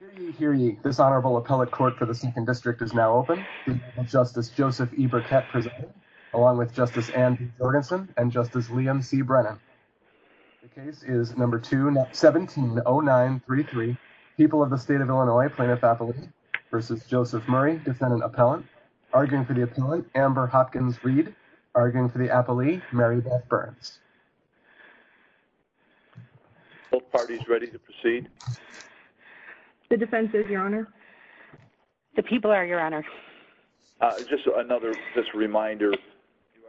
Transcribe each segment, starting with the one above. v. Murray. Hear ye, hear ye. This Honorable appellate court for the second district is now open. Justice Joseph E Burkett along with Justice and Jorgensen and Justice Liam see Brennan. The case is number two, 170933 people of the state of Illinois plaintiff appellate versus Joseph Murray defendant appellant arguing for the appellant. Amber Hopkins read arguing for the appellee. Mary Beth Burns. Both parties ready to proceed. The defense is your honor. The people are your honor. Just another reminder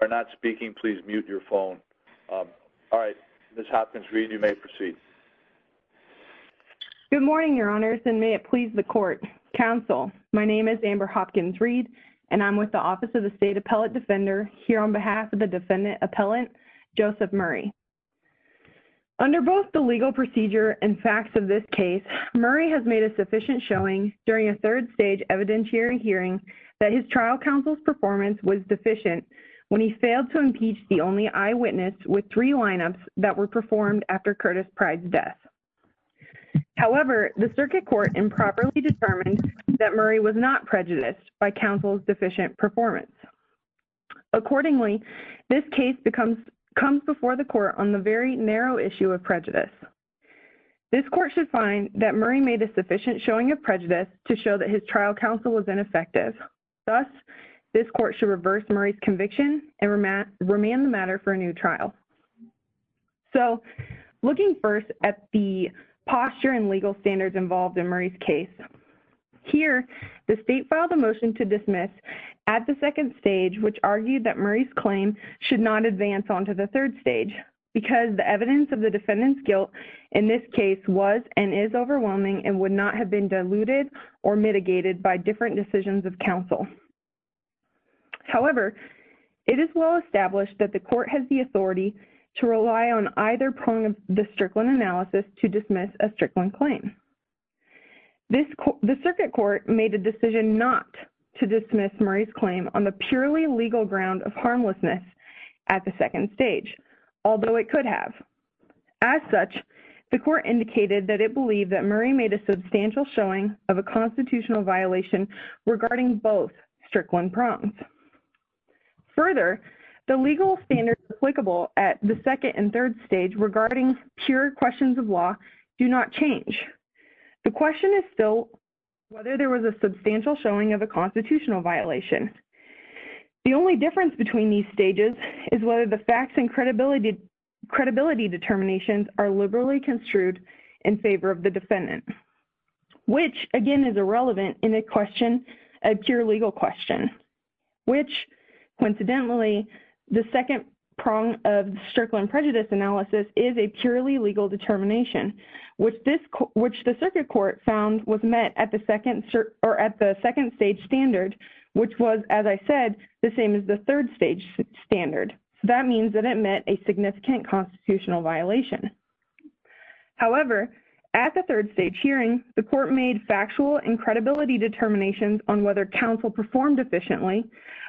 are not speaking. Please mute your phone. All right. This happens. Read. You may proceed. Good morning, your honors and may it please the court counsel. My name is Amber Hopkins read and I'm with the office of the state appellate defender here on behalf of the defendant appellant Joseph Murray. Under both the legal procedure and facts of this case, Murray has made a sufficient showing during a third stage evidentiary hearing that his trial counsel's performance was deficient when he failed to impeach the only eyewitness with three lineups that were performed after Curtis pride's death. However, the circuit court improperly determined that Murray was not prejudiced by counsel's deficient performance. Accordingly, this case becomes comes before the court on the very narrow issue of prejudice. This court should find that Murray made a sufficient showing of prejudice to show that his trial counsel was ineffective. Thus, this court should reverse Murray's conviction and remain the matter for a new trial. So, looking first at the posture and legal standards involved in Murray's case here, the state filed a motion to dismiss at the second stage, which argued that Murray's claim should not advance onto the third stage because the evidence of the defendant's guilt in this case was and is overwhelming and would not have been diluted or mitigated by different decisions of counsel. However, it is well established that the court has the authority to rely on either prong of the Strickland analysis to dismiss a Strickland claim. The circuit court made a decision not to dismiss Murray's claim on the purely legal ground of harmlessness at the second stage, although it could have. As such, the court indicated that it believed that Murray made a substantial showing of a constitutional violation regarding both Strickland prongs. Further, the legal standards applicable at the second and third stage regarding pure questions of law do not change. The question is still whether there was a substantial showing of a constitutional violation. The only difference between these stages is whether the facts and credibility determinations are liberally construed in favor of the defendant, which, again, is irrelevant in a question, a pure legal question, which, coincidentally, the second prong of the Strickland prejudice analysis is a purely legal determination, which the circuit court found was met at the second stage standard, which was, as I said, the same as the third stage standard. That means that it met a significant constitutional violation. However, at the third stage hearing, the court made factual and credibility determinations on whether counsel performed efficiently,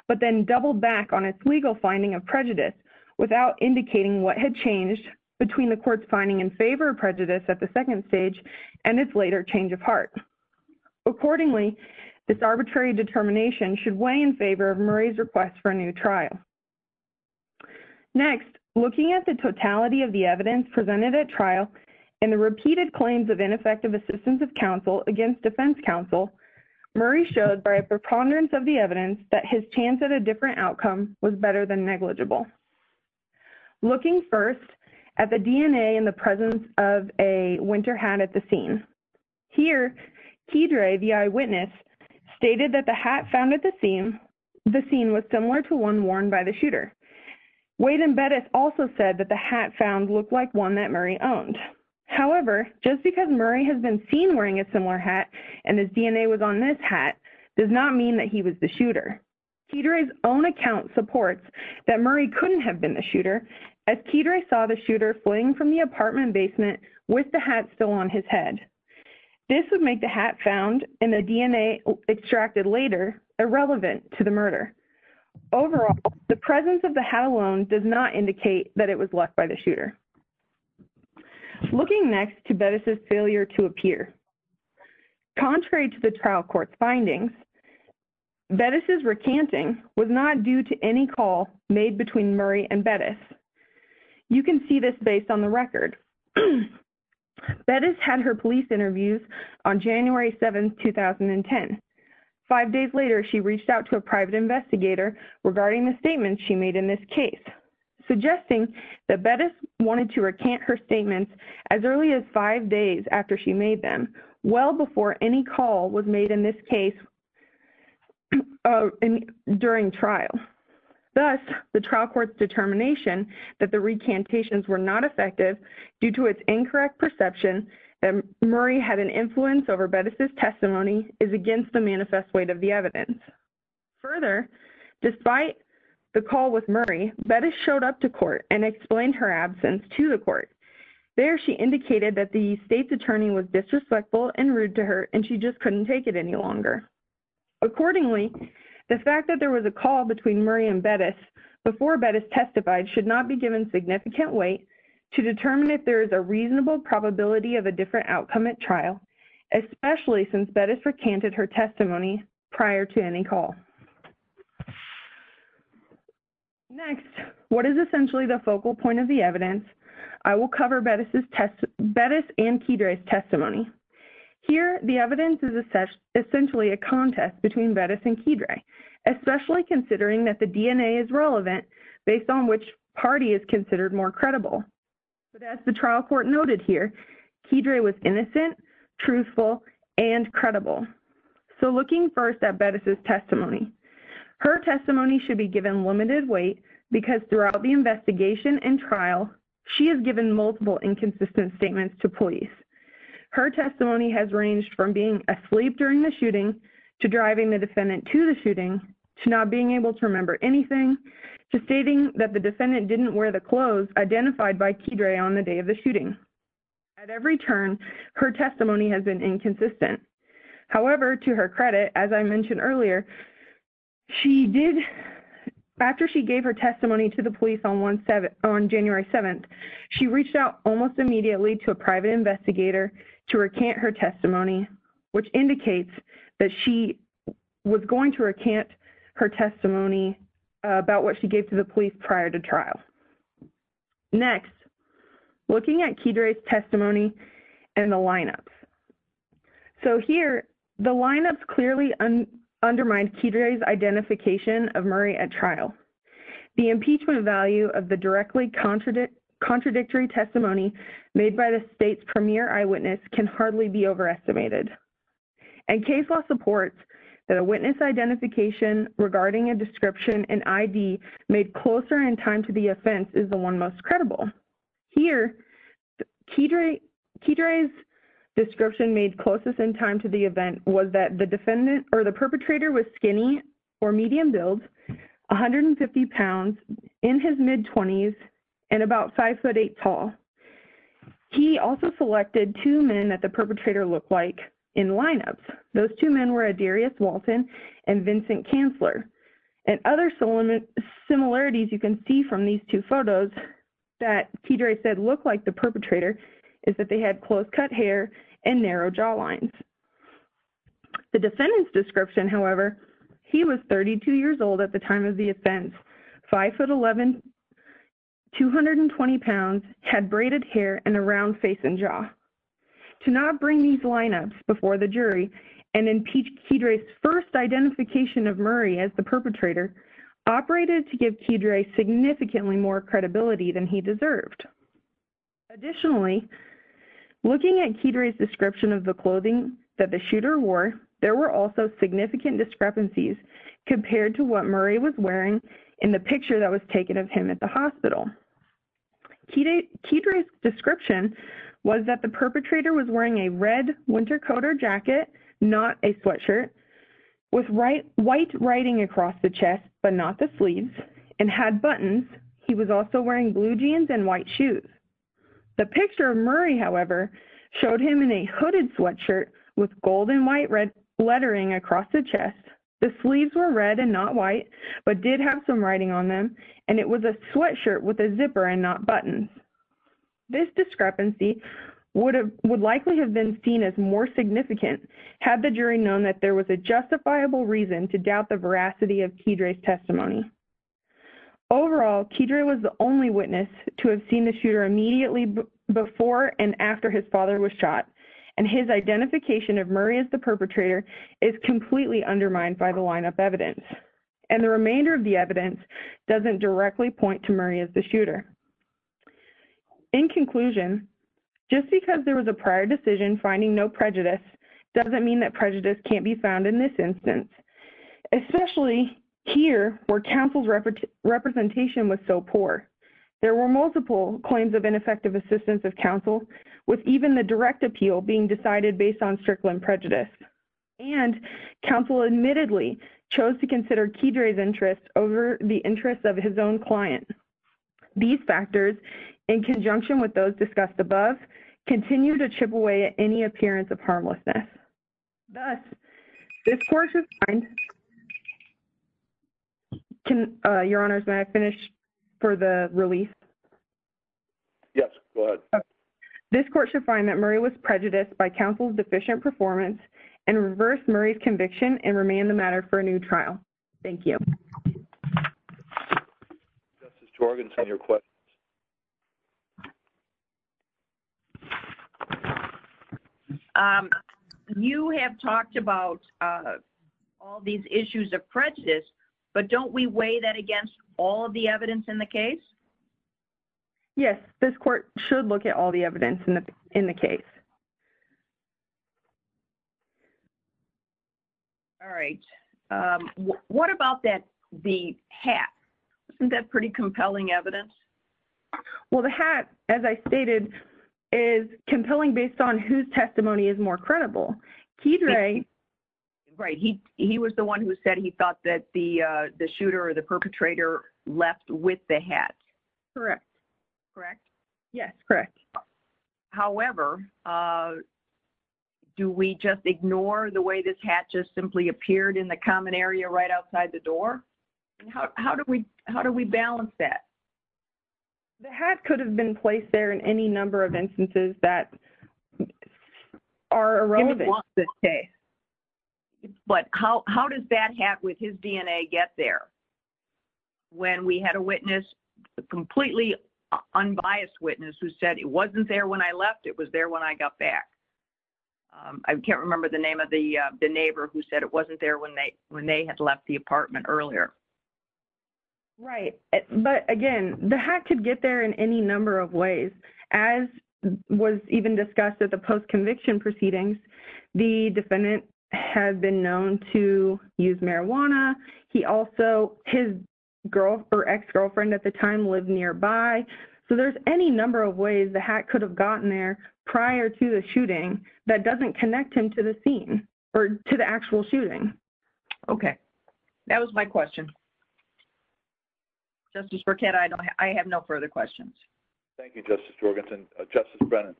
but then doubled back on its legal finding of prejudice without indicating what had changed between the court's finding in favor of prejudice at the second stage and its later change of heart. Accordingly, this arbitrary determination should weigh in favor of Murray's request for a new trial. Next, looking at the totality of the evidence presented at trial and the repeated claims of ineffective assistance of counsel against defense counsel, Murray showed by a preponderance of the evidence that his chance at a different outcome was better than negligible. Looking first at the DNA in the presence of a winter hat at the scene. Here, Kedre, the eyewitness, stated that the hat found at the scene was similar to one worn by the shooter. Wade and Bettis also said that the hat found looked like one that Murray owned. However, just because Murray has been seen wearing a similar hat and his DNA was on this hat does not mean that he was the shooter. Kedre's own account supports that Murray couldn't have been the shooter as Kedre saw the shooter fleeing from the apartment basement with the hat still on his head. This would make the hat found and the DNA extracted later irrelevant to the murder. Overall, the presence of the hat alone does not indicate that it was left by the shooter. Looking next to Bettis' failure to appear. Contrary to the trial court's findings, Bettis' recanting was not due to any call made between Murray and Bettis. You can see this based on the record. Bettis had her police interviews on January 7, 2010. Five days later, she reached out to a private investigator regarding the statements she made in this case, suggesting that Bettis wanted to recant her statements as early as five days after she made them, well before any call was made in this case during trial. Thus, the trial court's determination that the recantations were not effective due to its incorrect perception that Murray had an influence over Bettis' testimony is against the manifest weight of the evidence. Further, despite the call with Murray, Bettis showed up to court and explained her absence to the court. There, she indicated that the state's attorney was disrespectful and rude to her and she just couldn't take it any longer. Accordingly, the fact that there was a call between Murray and Bettis before Bettis testified should not be given significant weight to determine if there is a reasonable probability of a different outcome at trial, especially since Bettis recanted her testimony prior to any call. Next, what is essentially the focal point of the evidence? I will cover Bettis' and Kidre's testimony. Here, the evidence is essentially a contest between Bettis and Kidre, especially considering that the DNA is relevant based on which party is considered more credible. But as the trial court noted here, Kidre was innocent, truthful, and credible. So looking first at Bettis' testimony, her testimony should be given limited weight because throughout the investigation and trial, she has given multiple inconsistent statements to police. Her testimony has ranged from being asleep during the shooting, to driving the defendant to the shooting, to not being able to remember anything, to stating that the defendant didn't wear the clothes identified by Kidre on the day of the shooting. At every turn, her testimony has been inconsistent. However, to her credit, as I mentioned earlier, after she gave her testimony to the police on January 7th, she reached out almost immediately to a private investigator to recant her testimony, which indicates that she was going to recant her testimony about what she gave to the police prior to trial. Next, looking at Kidre's testimony and the lineups. So here, the lineups clearly undermine Kidre's identification of Murray at trial. The impeachment value of the directly contradictory testimony made by the state's premier eyewitness can hardly be overestimated. And case law supports that a witness identification regarding a description and ID made closer in time to the offense is the one most credible. Here, Kidre's description made closest in time to the event was that the defendant or the perpetrator was skinny or medium build, 150 pounds, in his mid-20s, and about 5'8 tall. He also selected two men that the perpetrator looked like in lineups. Those two men were Adarius Walton and Vincent Kanzler. And other similarities you can see from these two photos that Kidre said looked like the perpetrator is that they had close-cut hair and narrow jawlines. The defendant's description, however, he was 32 years old at the time of the offense, 5'11", 220 pounds, had braided hair, and a round face and jaw. To not bring these lineups before the jury and impeach Kidre's first identification of Murray as the perpetrator operated to give Kidre significantly more credibility than he deserved. Additionally, looking at Kidre's description of the clothing that the shooter wore, there were also significant discrepancies compared to what Murray was wearing in the picture that was taken of him at the hospital. Kidre's description was that the perpetrator was wearing a red winter coat or jacket, not a sweatshirt, with white writing across the chest, but not the sleeves, and had buttons. He was also wearing blue jeans and white shoes. The picture of Murray, however, showed him in a hooded sweatshirt with gold and white lettering across the chest. The sleeves were red and not white, but did have some writing on them, and it was a sweatshirt with a zipper and not buttons. This discrepancy would likely have been seen as more significant had the jury known that there was a justifiable reason to doubt the veracity of Kidre's testimony. Overall, Kidre was the only witness to have seen the shooter immediately before and after his father was shot, and his identification of Murray as the perpetrator is completely undermined by the lineup evidence, and the remainder of the evidence doesn't directly point to Murray as the shooter. In conclusion, just because there was a prior decision finding no prejudice doesn't mean that prejudice can't be found in this instance, especially here where counsel's representation was so poor. There were multiple claims of ineffective assistance of counsel, with even the direct appeal being decided based on Strickland prejudice, and counsel admittedly chose to consider Kidre's interests over the interests of his own client. These factors, in conjunction with those discussed above, continue to chip away at any appearance of harmlessness. Thus, this court should find... Your Honors, may I finish for the release? Yes, go ahead. This court should find that Murray was prejudiced by counsel's deficient performance and reverse Murray's conviction and remand the matter for a new trial. Thank you. Justice Jorgenson, your questions. You have talked about all these issues of prejudice, but don't we weigh that against all of the evidence in the case? Yes, this court should look at all the evidence in the case. All right. What about the hat? Isn't that pretty compelling evidence? Well, the hat, as I stated, is compelling based on whose testimony is more credible. Kidre... Right. He was the one who said he thought that the shooter or the perpetrator left with the hat. Correct. Correct? Yes, correct. However, do we just ignore the way this hat just simply appeared in the common area right outside the door? How do we balance that? The hat could have been placed there in any number of instances that are irrelevant. But how does that hat with his DNA get there? When we had a witness, a completely unbiased witness, who said it wasn't there when I left, it was there when I got back. I can't remember the name of the neighbor who said it wasn't there when they had left the apartment earlier. Right. But, again, the hat could get there in any number of ways. As was even discussed at the post-conviction proceedings, the defendant had been known to use marijuana. He also, his girlfriend or ex-girlfriend at the time lived nearby. So there's any number of ways the hat could have gotten there prior to the shooting that doesn't connect him to the scene or to the actual shooting. Okay. That was my question. Justice Burkett, I have no further questions. Thank you, Justice Jorgenson. Justice Brennan.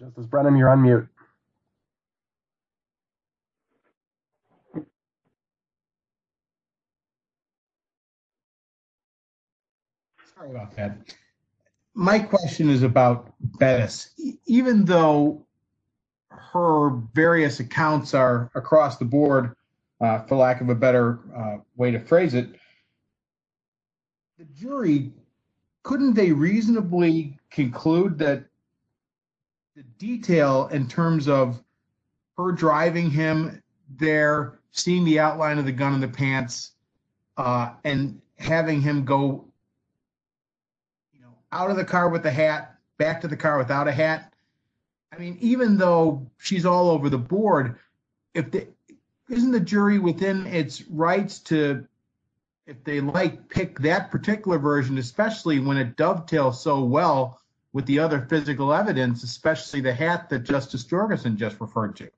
Justice Brennan, you're on mute. Sorry about that. My question is about Bettis. Even though her various accounts are across the board, for lack of a better way to phrase it, the jury, couldn't they reasonably conclude that the detail in terms of her driving him there, seeing the outline of the gun in the pants, and having him go out of the car with a hat, back to the car without a hat? I mean, even though she's all over the board, isn't the jury within its rights to, if they like, pick that particular version, especially when it dovetails so well with the other physical evidence, especially the hat that Justice Jorgenson just referred to?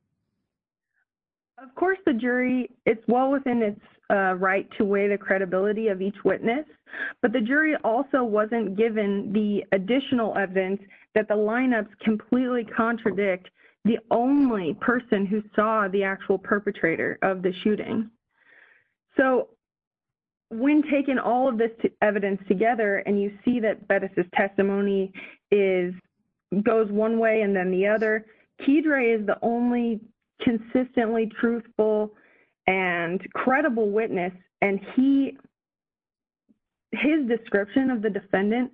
Of course, the jury, it's well within its right to weigh the credibility of each witness, but the jury also wasn't given the additional evidence that the lineups completely contradict the only person who saw the actual perpetrator of the shooting. So, when taking all of this evidence together and you see that Bettis' testimony goes one way and then the other, Kedre is the only consistently truthful and credible witness, and his description of the defendant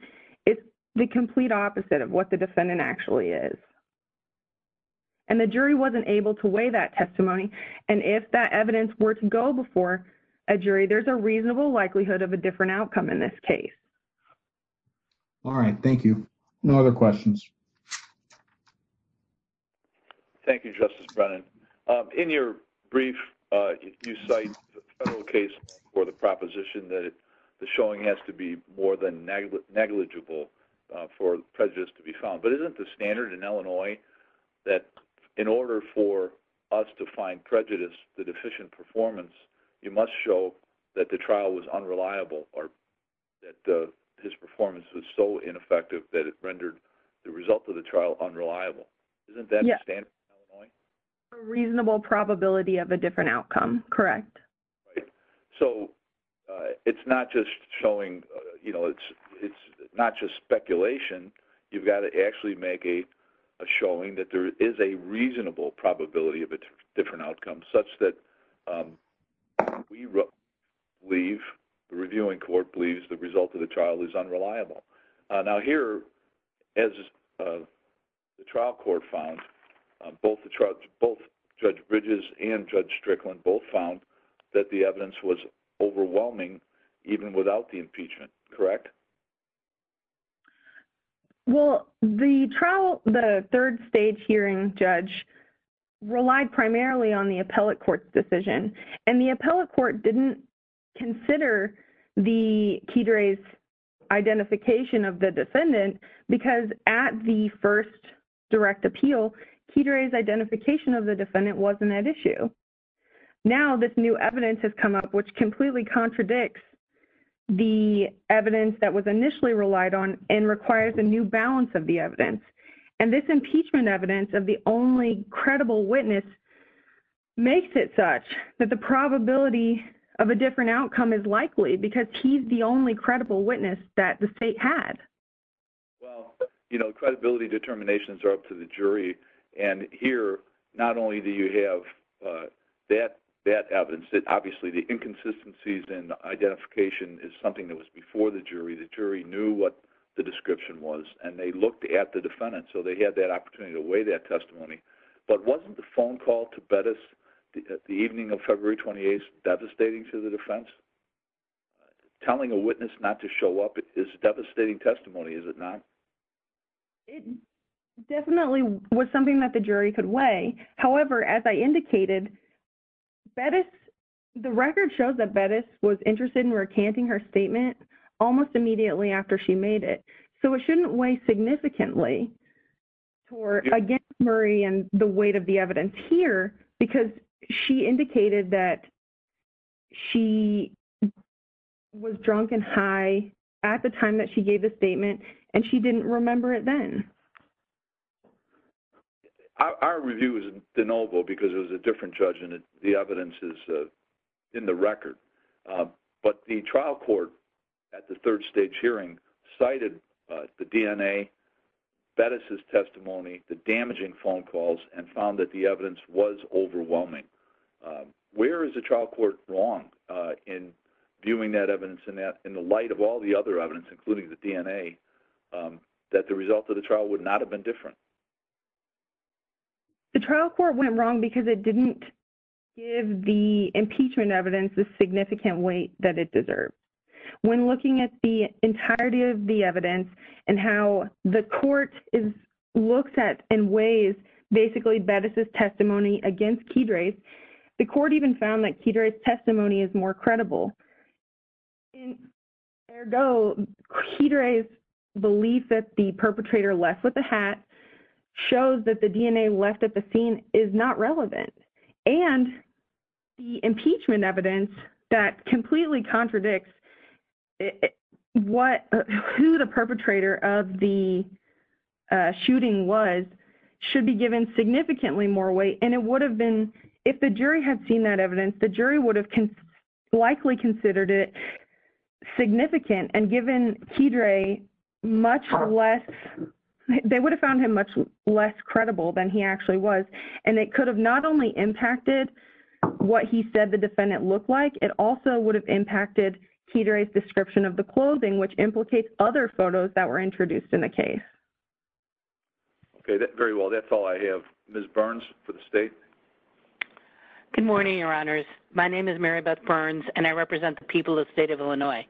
is the complete opposite of what the defendant actually is. And the jury wasn't able to weigh that testimony, and if that evidence were to go before a jury, there's a reasonable likelihood of a different outcome in this case. All right. Thank you. No other questions. Thank you, Justice Brennan. In your brief, you cite the federal case for the proposition that the showing has to be more than negligible for prejudice to be found. But isn't the standard in Illinois that in order for us to find prejudice to deficient performance, you must show that the trial was unreliable or that his performance was so ineffective that it rendered the result of the trial unreliable? Isn't that the standard in Illinois? A reasonable probability of a different outcome, correct. So, it's not just showing, you know, it's not just speculation. You've got to actually make a showing that there is a reasonable probability of a different outcome such that we believe, the reviewing court believes, the result of the trial is unreliable. Now here, as the trial court found, both Judge Bridges and Judge Strickland both found that the evidence was overwhelming even without the impeachment, correct? Well, the trial, the third stage hearing judge relied primarily on the appellate court's decision. And the appellate court didn't consider the Keidre's identification of the defendant because at the first direct appeal, Keidre's identification of the defendant wasn't at issue. Now, this new evidence has come up, which completely contradicts the evidence that was initially relied on and requires a new balance of the evidence. And this impeachment evidence of the only credible witness makes it such that the probability of a different outcome is likely because he's the only credible witness that the state had. Well, you know, credibility determinations are up to the jury. And here, not only do you have that evidence, obviously the inconsistencies in identification is something that was before the jury. The jury knew what the description was and they looked at the defendant so they had that opportunity to weigh that testimony. But wasn't the phone call to Bettis the evening of February 28th devastating to the defense? Telling a witness not to show up is devastating testimony, is it not? It definitely was something that the jury could weigh. However, as I indicated, Bettis, the record shows that Bettis was interested in recanting her statement almost immediately after she made it. So it shouldn't weigh significantly against Murray and the weight of the evidence here because she indicated that she was drunk and high at the time that she gave the statement and she didn't remember it then. Our review was de novo because it was a different judge and the evidence is in the record. But the trial court at the third stage hearing cited the DNA, Bettis' testimony, the damaging phone calls, and found that the evidence was overwhelming. Where is the trial court wrong in viewing that evidence in the light of all the other evidence, including the DNA, that the result of the trial would not have been different? The trial court went wrong because it didn't give the impeachment evidence the significant weight that it deserved. When looking at the entirety of the evidence and how the court looks at and weighs basically Bettis' testimony against Kidre's, the court even found that Kidre's testimony is more credible. Ergo, Kidre's belief that the perpetrator left with the hat shows that the DNA left at the scene is not relevant. And the impeachment evidence that completely contradicts who the perpetrator of the shooting was should be given significantly more weight. If the jury had seen that evidence, the jury would have likely considered it significant and given Kidre much less – they would have found him much less credible than he actually was. And it could have not only impacted what he said the defendant looked like, it also would have impacted Kidre's description of the clothing, which implicates other photos that were introduced in the case. Okay, very well. That's all I have. Ms. Burns for the state. Good morning, Your Honors. My name is Mary Beth Burns, and I represent the people of the state of Illinois.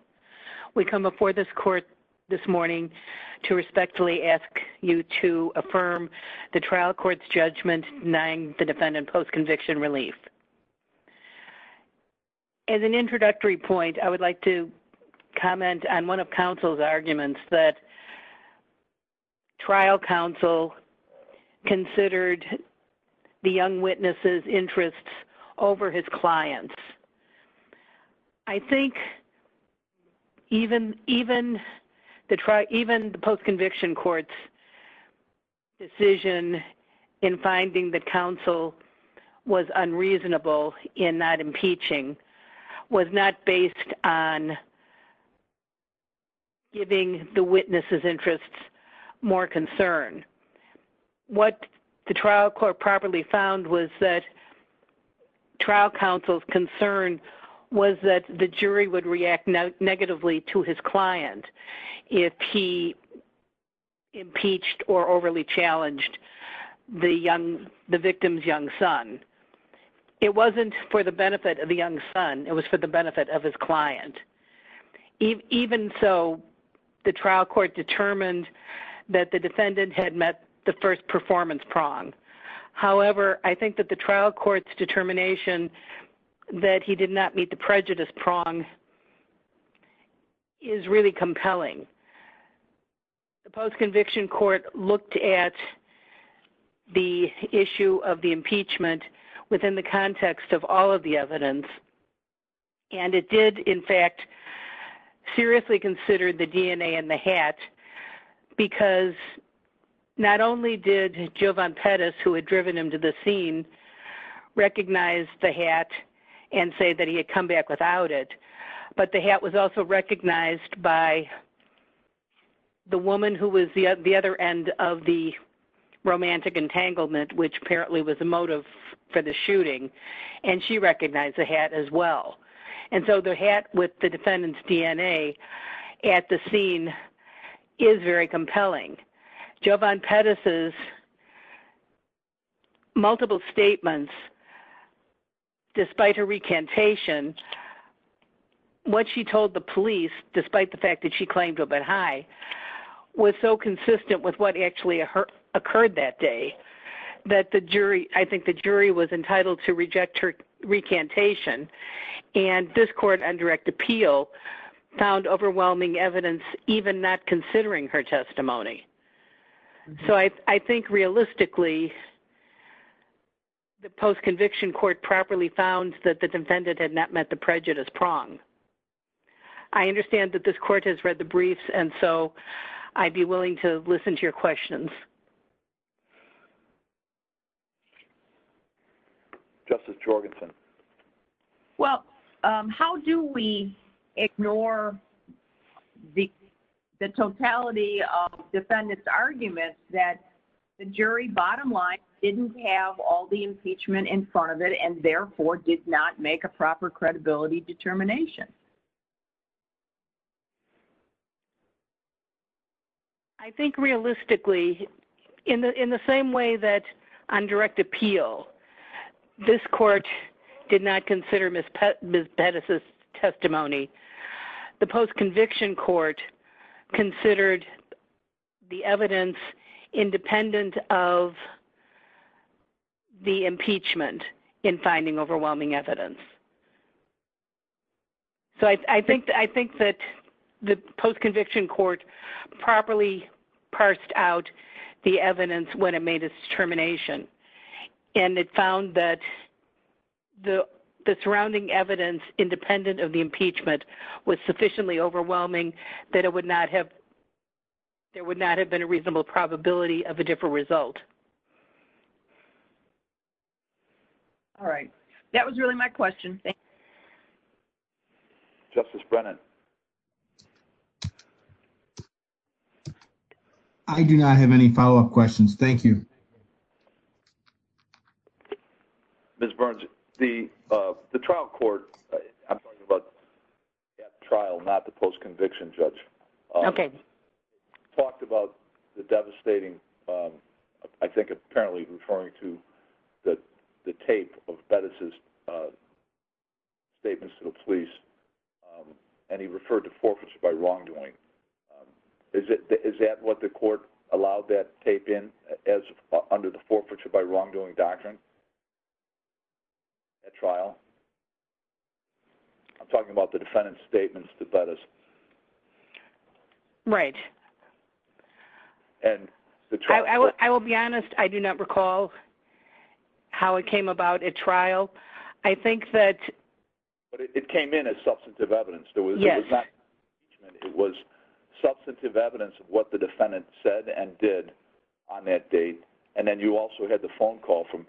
We come before this court this morning to respectfully ask you to affirm the trial court's judgment denying the defendant post-conviction relief. As an introductory point, I would like to comment on one of counsel's arguments that trial counsel considered the young witness's interests over his client's. I think even the post-conviction court's decision in finding that counsel was unreasonable in not impeaching was not based on giving the witness's interests more concern. What the trial court properly found was that trial counsel's concern was that the jury would react negatively to his client if he impeached or overly challenged the victim's young son. It wasn't for the benefit of the young son. It was for the benefit of his client. Even so, the trial court determined that the defendant had met the first performance prong. However, I think that the trial court's determination that he did not meet the prejudice prong is really compelling. The post-conviction court looked at the issue of the impeachment within the context of all of the evidence, and it did, in fact, seriously consider the DNA in the hat, the woman who was the other end of the romantic entanglement, which apparently was the motive for the shooting, and she recognized the hat as well. And so the hat with the defendant's DNA at the scene is very compelling. Jovan Pettis's multiple statements, despite her recantation, what she told the police, despite the fact that she claimed to have been high, was so consistent with what actually occurred that day that I think the jury was entitled to reject her recantation. And this court, on direct appeal, found overwhelming evidence, even not considering her testimony. So I think, realistically, the post-conviction court properly found that the defendant had not met the prejudice prong. I understand that this court has read the briefs, and so I'd be willing to listen to your questions. Justice Jorgensen. Well, how do we ignore the totality of defendants' arguments that the jury, bottom line, didn't have all the impeachment in front of it and, therefore, did not make a proper credibility determination? I think, realistically, in the same way that, on direct appeal, this court did not consider Ms. Pettis's testimony, the post-conviction court considered the evidence independent of the impeachment in finding overwhelming evidence. So I think that the post-conviction court properly parsed out the evidence when it made its determination, and it found that the surrounding evidence independent of the impeachment was sufficiently overwhelming that it would not have – there would not have been a reasonable probability of a different result. All right. That was really my question. Justice Brennan. I do not have any follow-up questions. Thank you. Ms. Burns, the trial court – I'm talking about the trial, not the post-conviction judge – talked about the devastating – I think apparently referring to the tape of Pettis's statements to the police, and he referred to forfeiture by wrongdoing. Is that what the court allowed that tape in as – under the forfeiture by wrongdoing doctrine at trial? I'm talking about the defendant's statements to Pettis. Right. And the trial – I will be honest. I do not recall how it came about at trial. I think that – But it came in as substantive evidence. Yes. It was substantive evidence of what the defendant said and did on that date, and then you also had the phone call from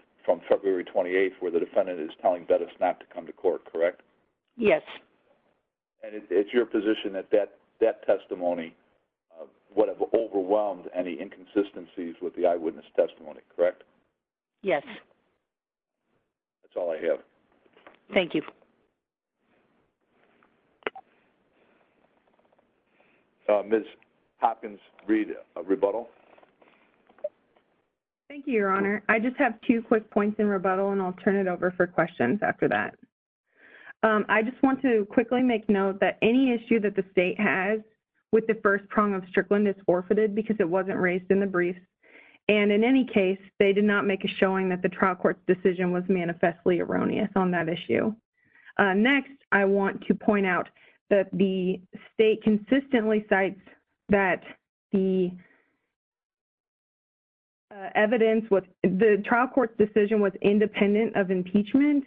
February 28th where the defendant is telling Pettis not to come to court, correct? Yes. And it's your position that that testimony would have overwhelmed any inconsistencies with the eyewitness testimony, correct? Yes. That's all I have. Thank you. Ms. Hopkins, read rebuttal. Thank you, Your Honor. I just have two quick points in rebuttal, and I'll turn it over for questions after that. I just want to quickly make note that any issue that the state has with the first prong of Strickland is forfeited because it wasn't raised in the brief, and in any case, they did not make a showing that the trial court's decision was manifestly erroneous on that issue. Next, I want to point out that the state consistently cites that the evidence was – the trial court's decision was independent of impeachment,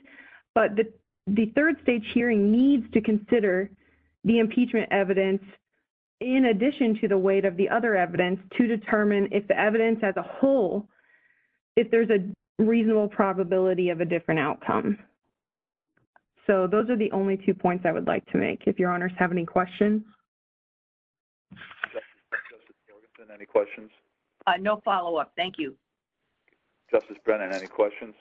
but the third stage hearing needs to consider the impeachment evidence in addition to the weight of the other evidence to determine if the evidence as a whole, if there's a reasonable probability of a different outcome. So, those are the only two points I would like to make. If Your Honors have any questions. Any questions? No follow-up. Thank you. Justice Brennan, any questions?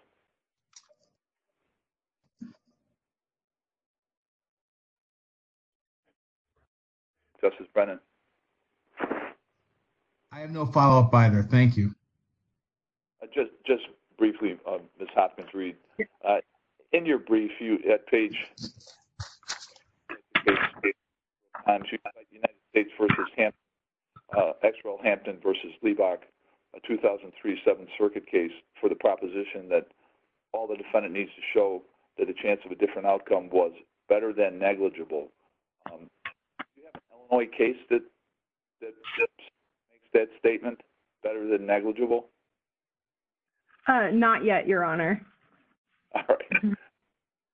Justice Brennan? I have no follow-up either. Thank you. Just briefly, Ms. Hopkins-Reed. In your brief, you – at page –– United States v. Hampton – Exerell Hampton v. Leibach, a 2003 Seventh Circuit case for the proposition that all the defendant needs to show that a chance of a different outcome was better than negligible. Do you have an Illinois case that makes that statement better than negligible? Not yet, Your Honor. All right.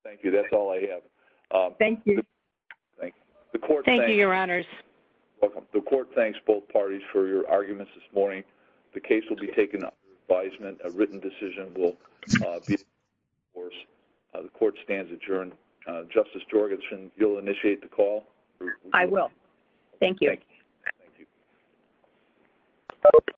Thank you. That's all I have. Thank you. The court – Thank you, Your Honors. The court thanks both parties for your arguments this morning. The case will be taken under advisement. A written decision will be – The court stands adjourned. Justice Jorgensen, you'll initiate the call? I will. Thank you. Thank you.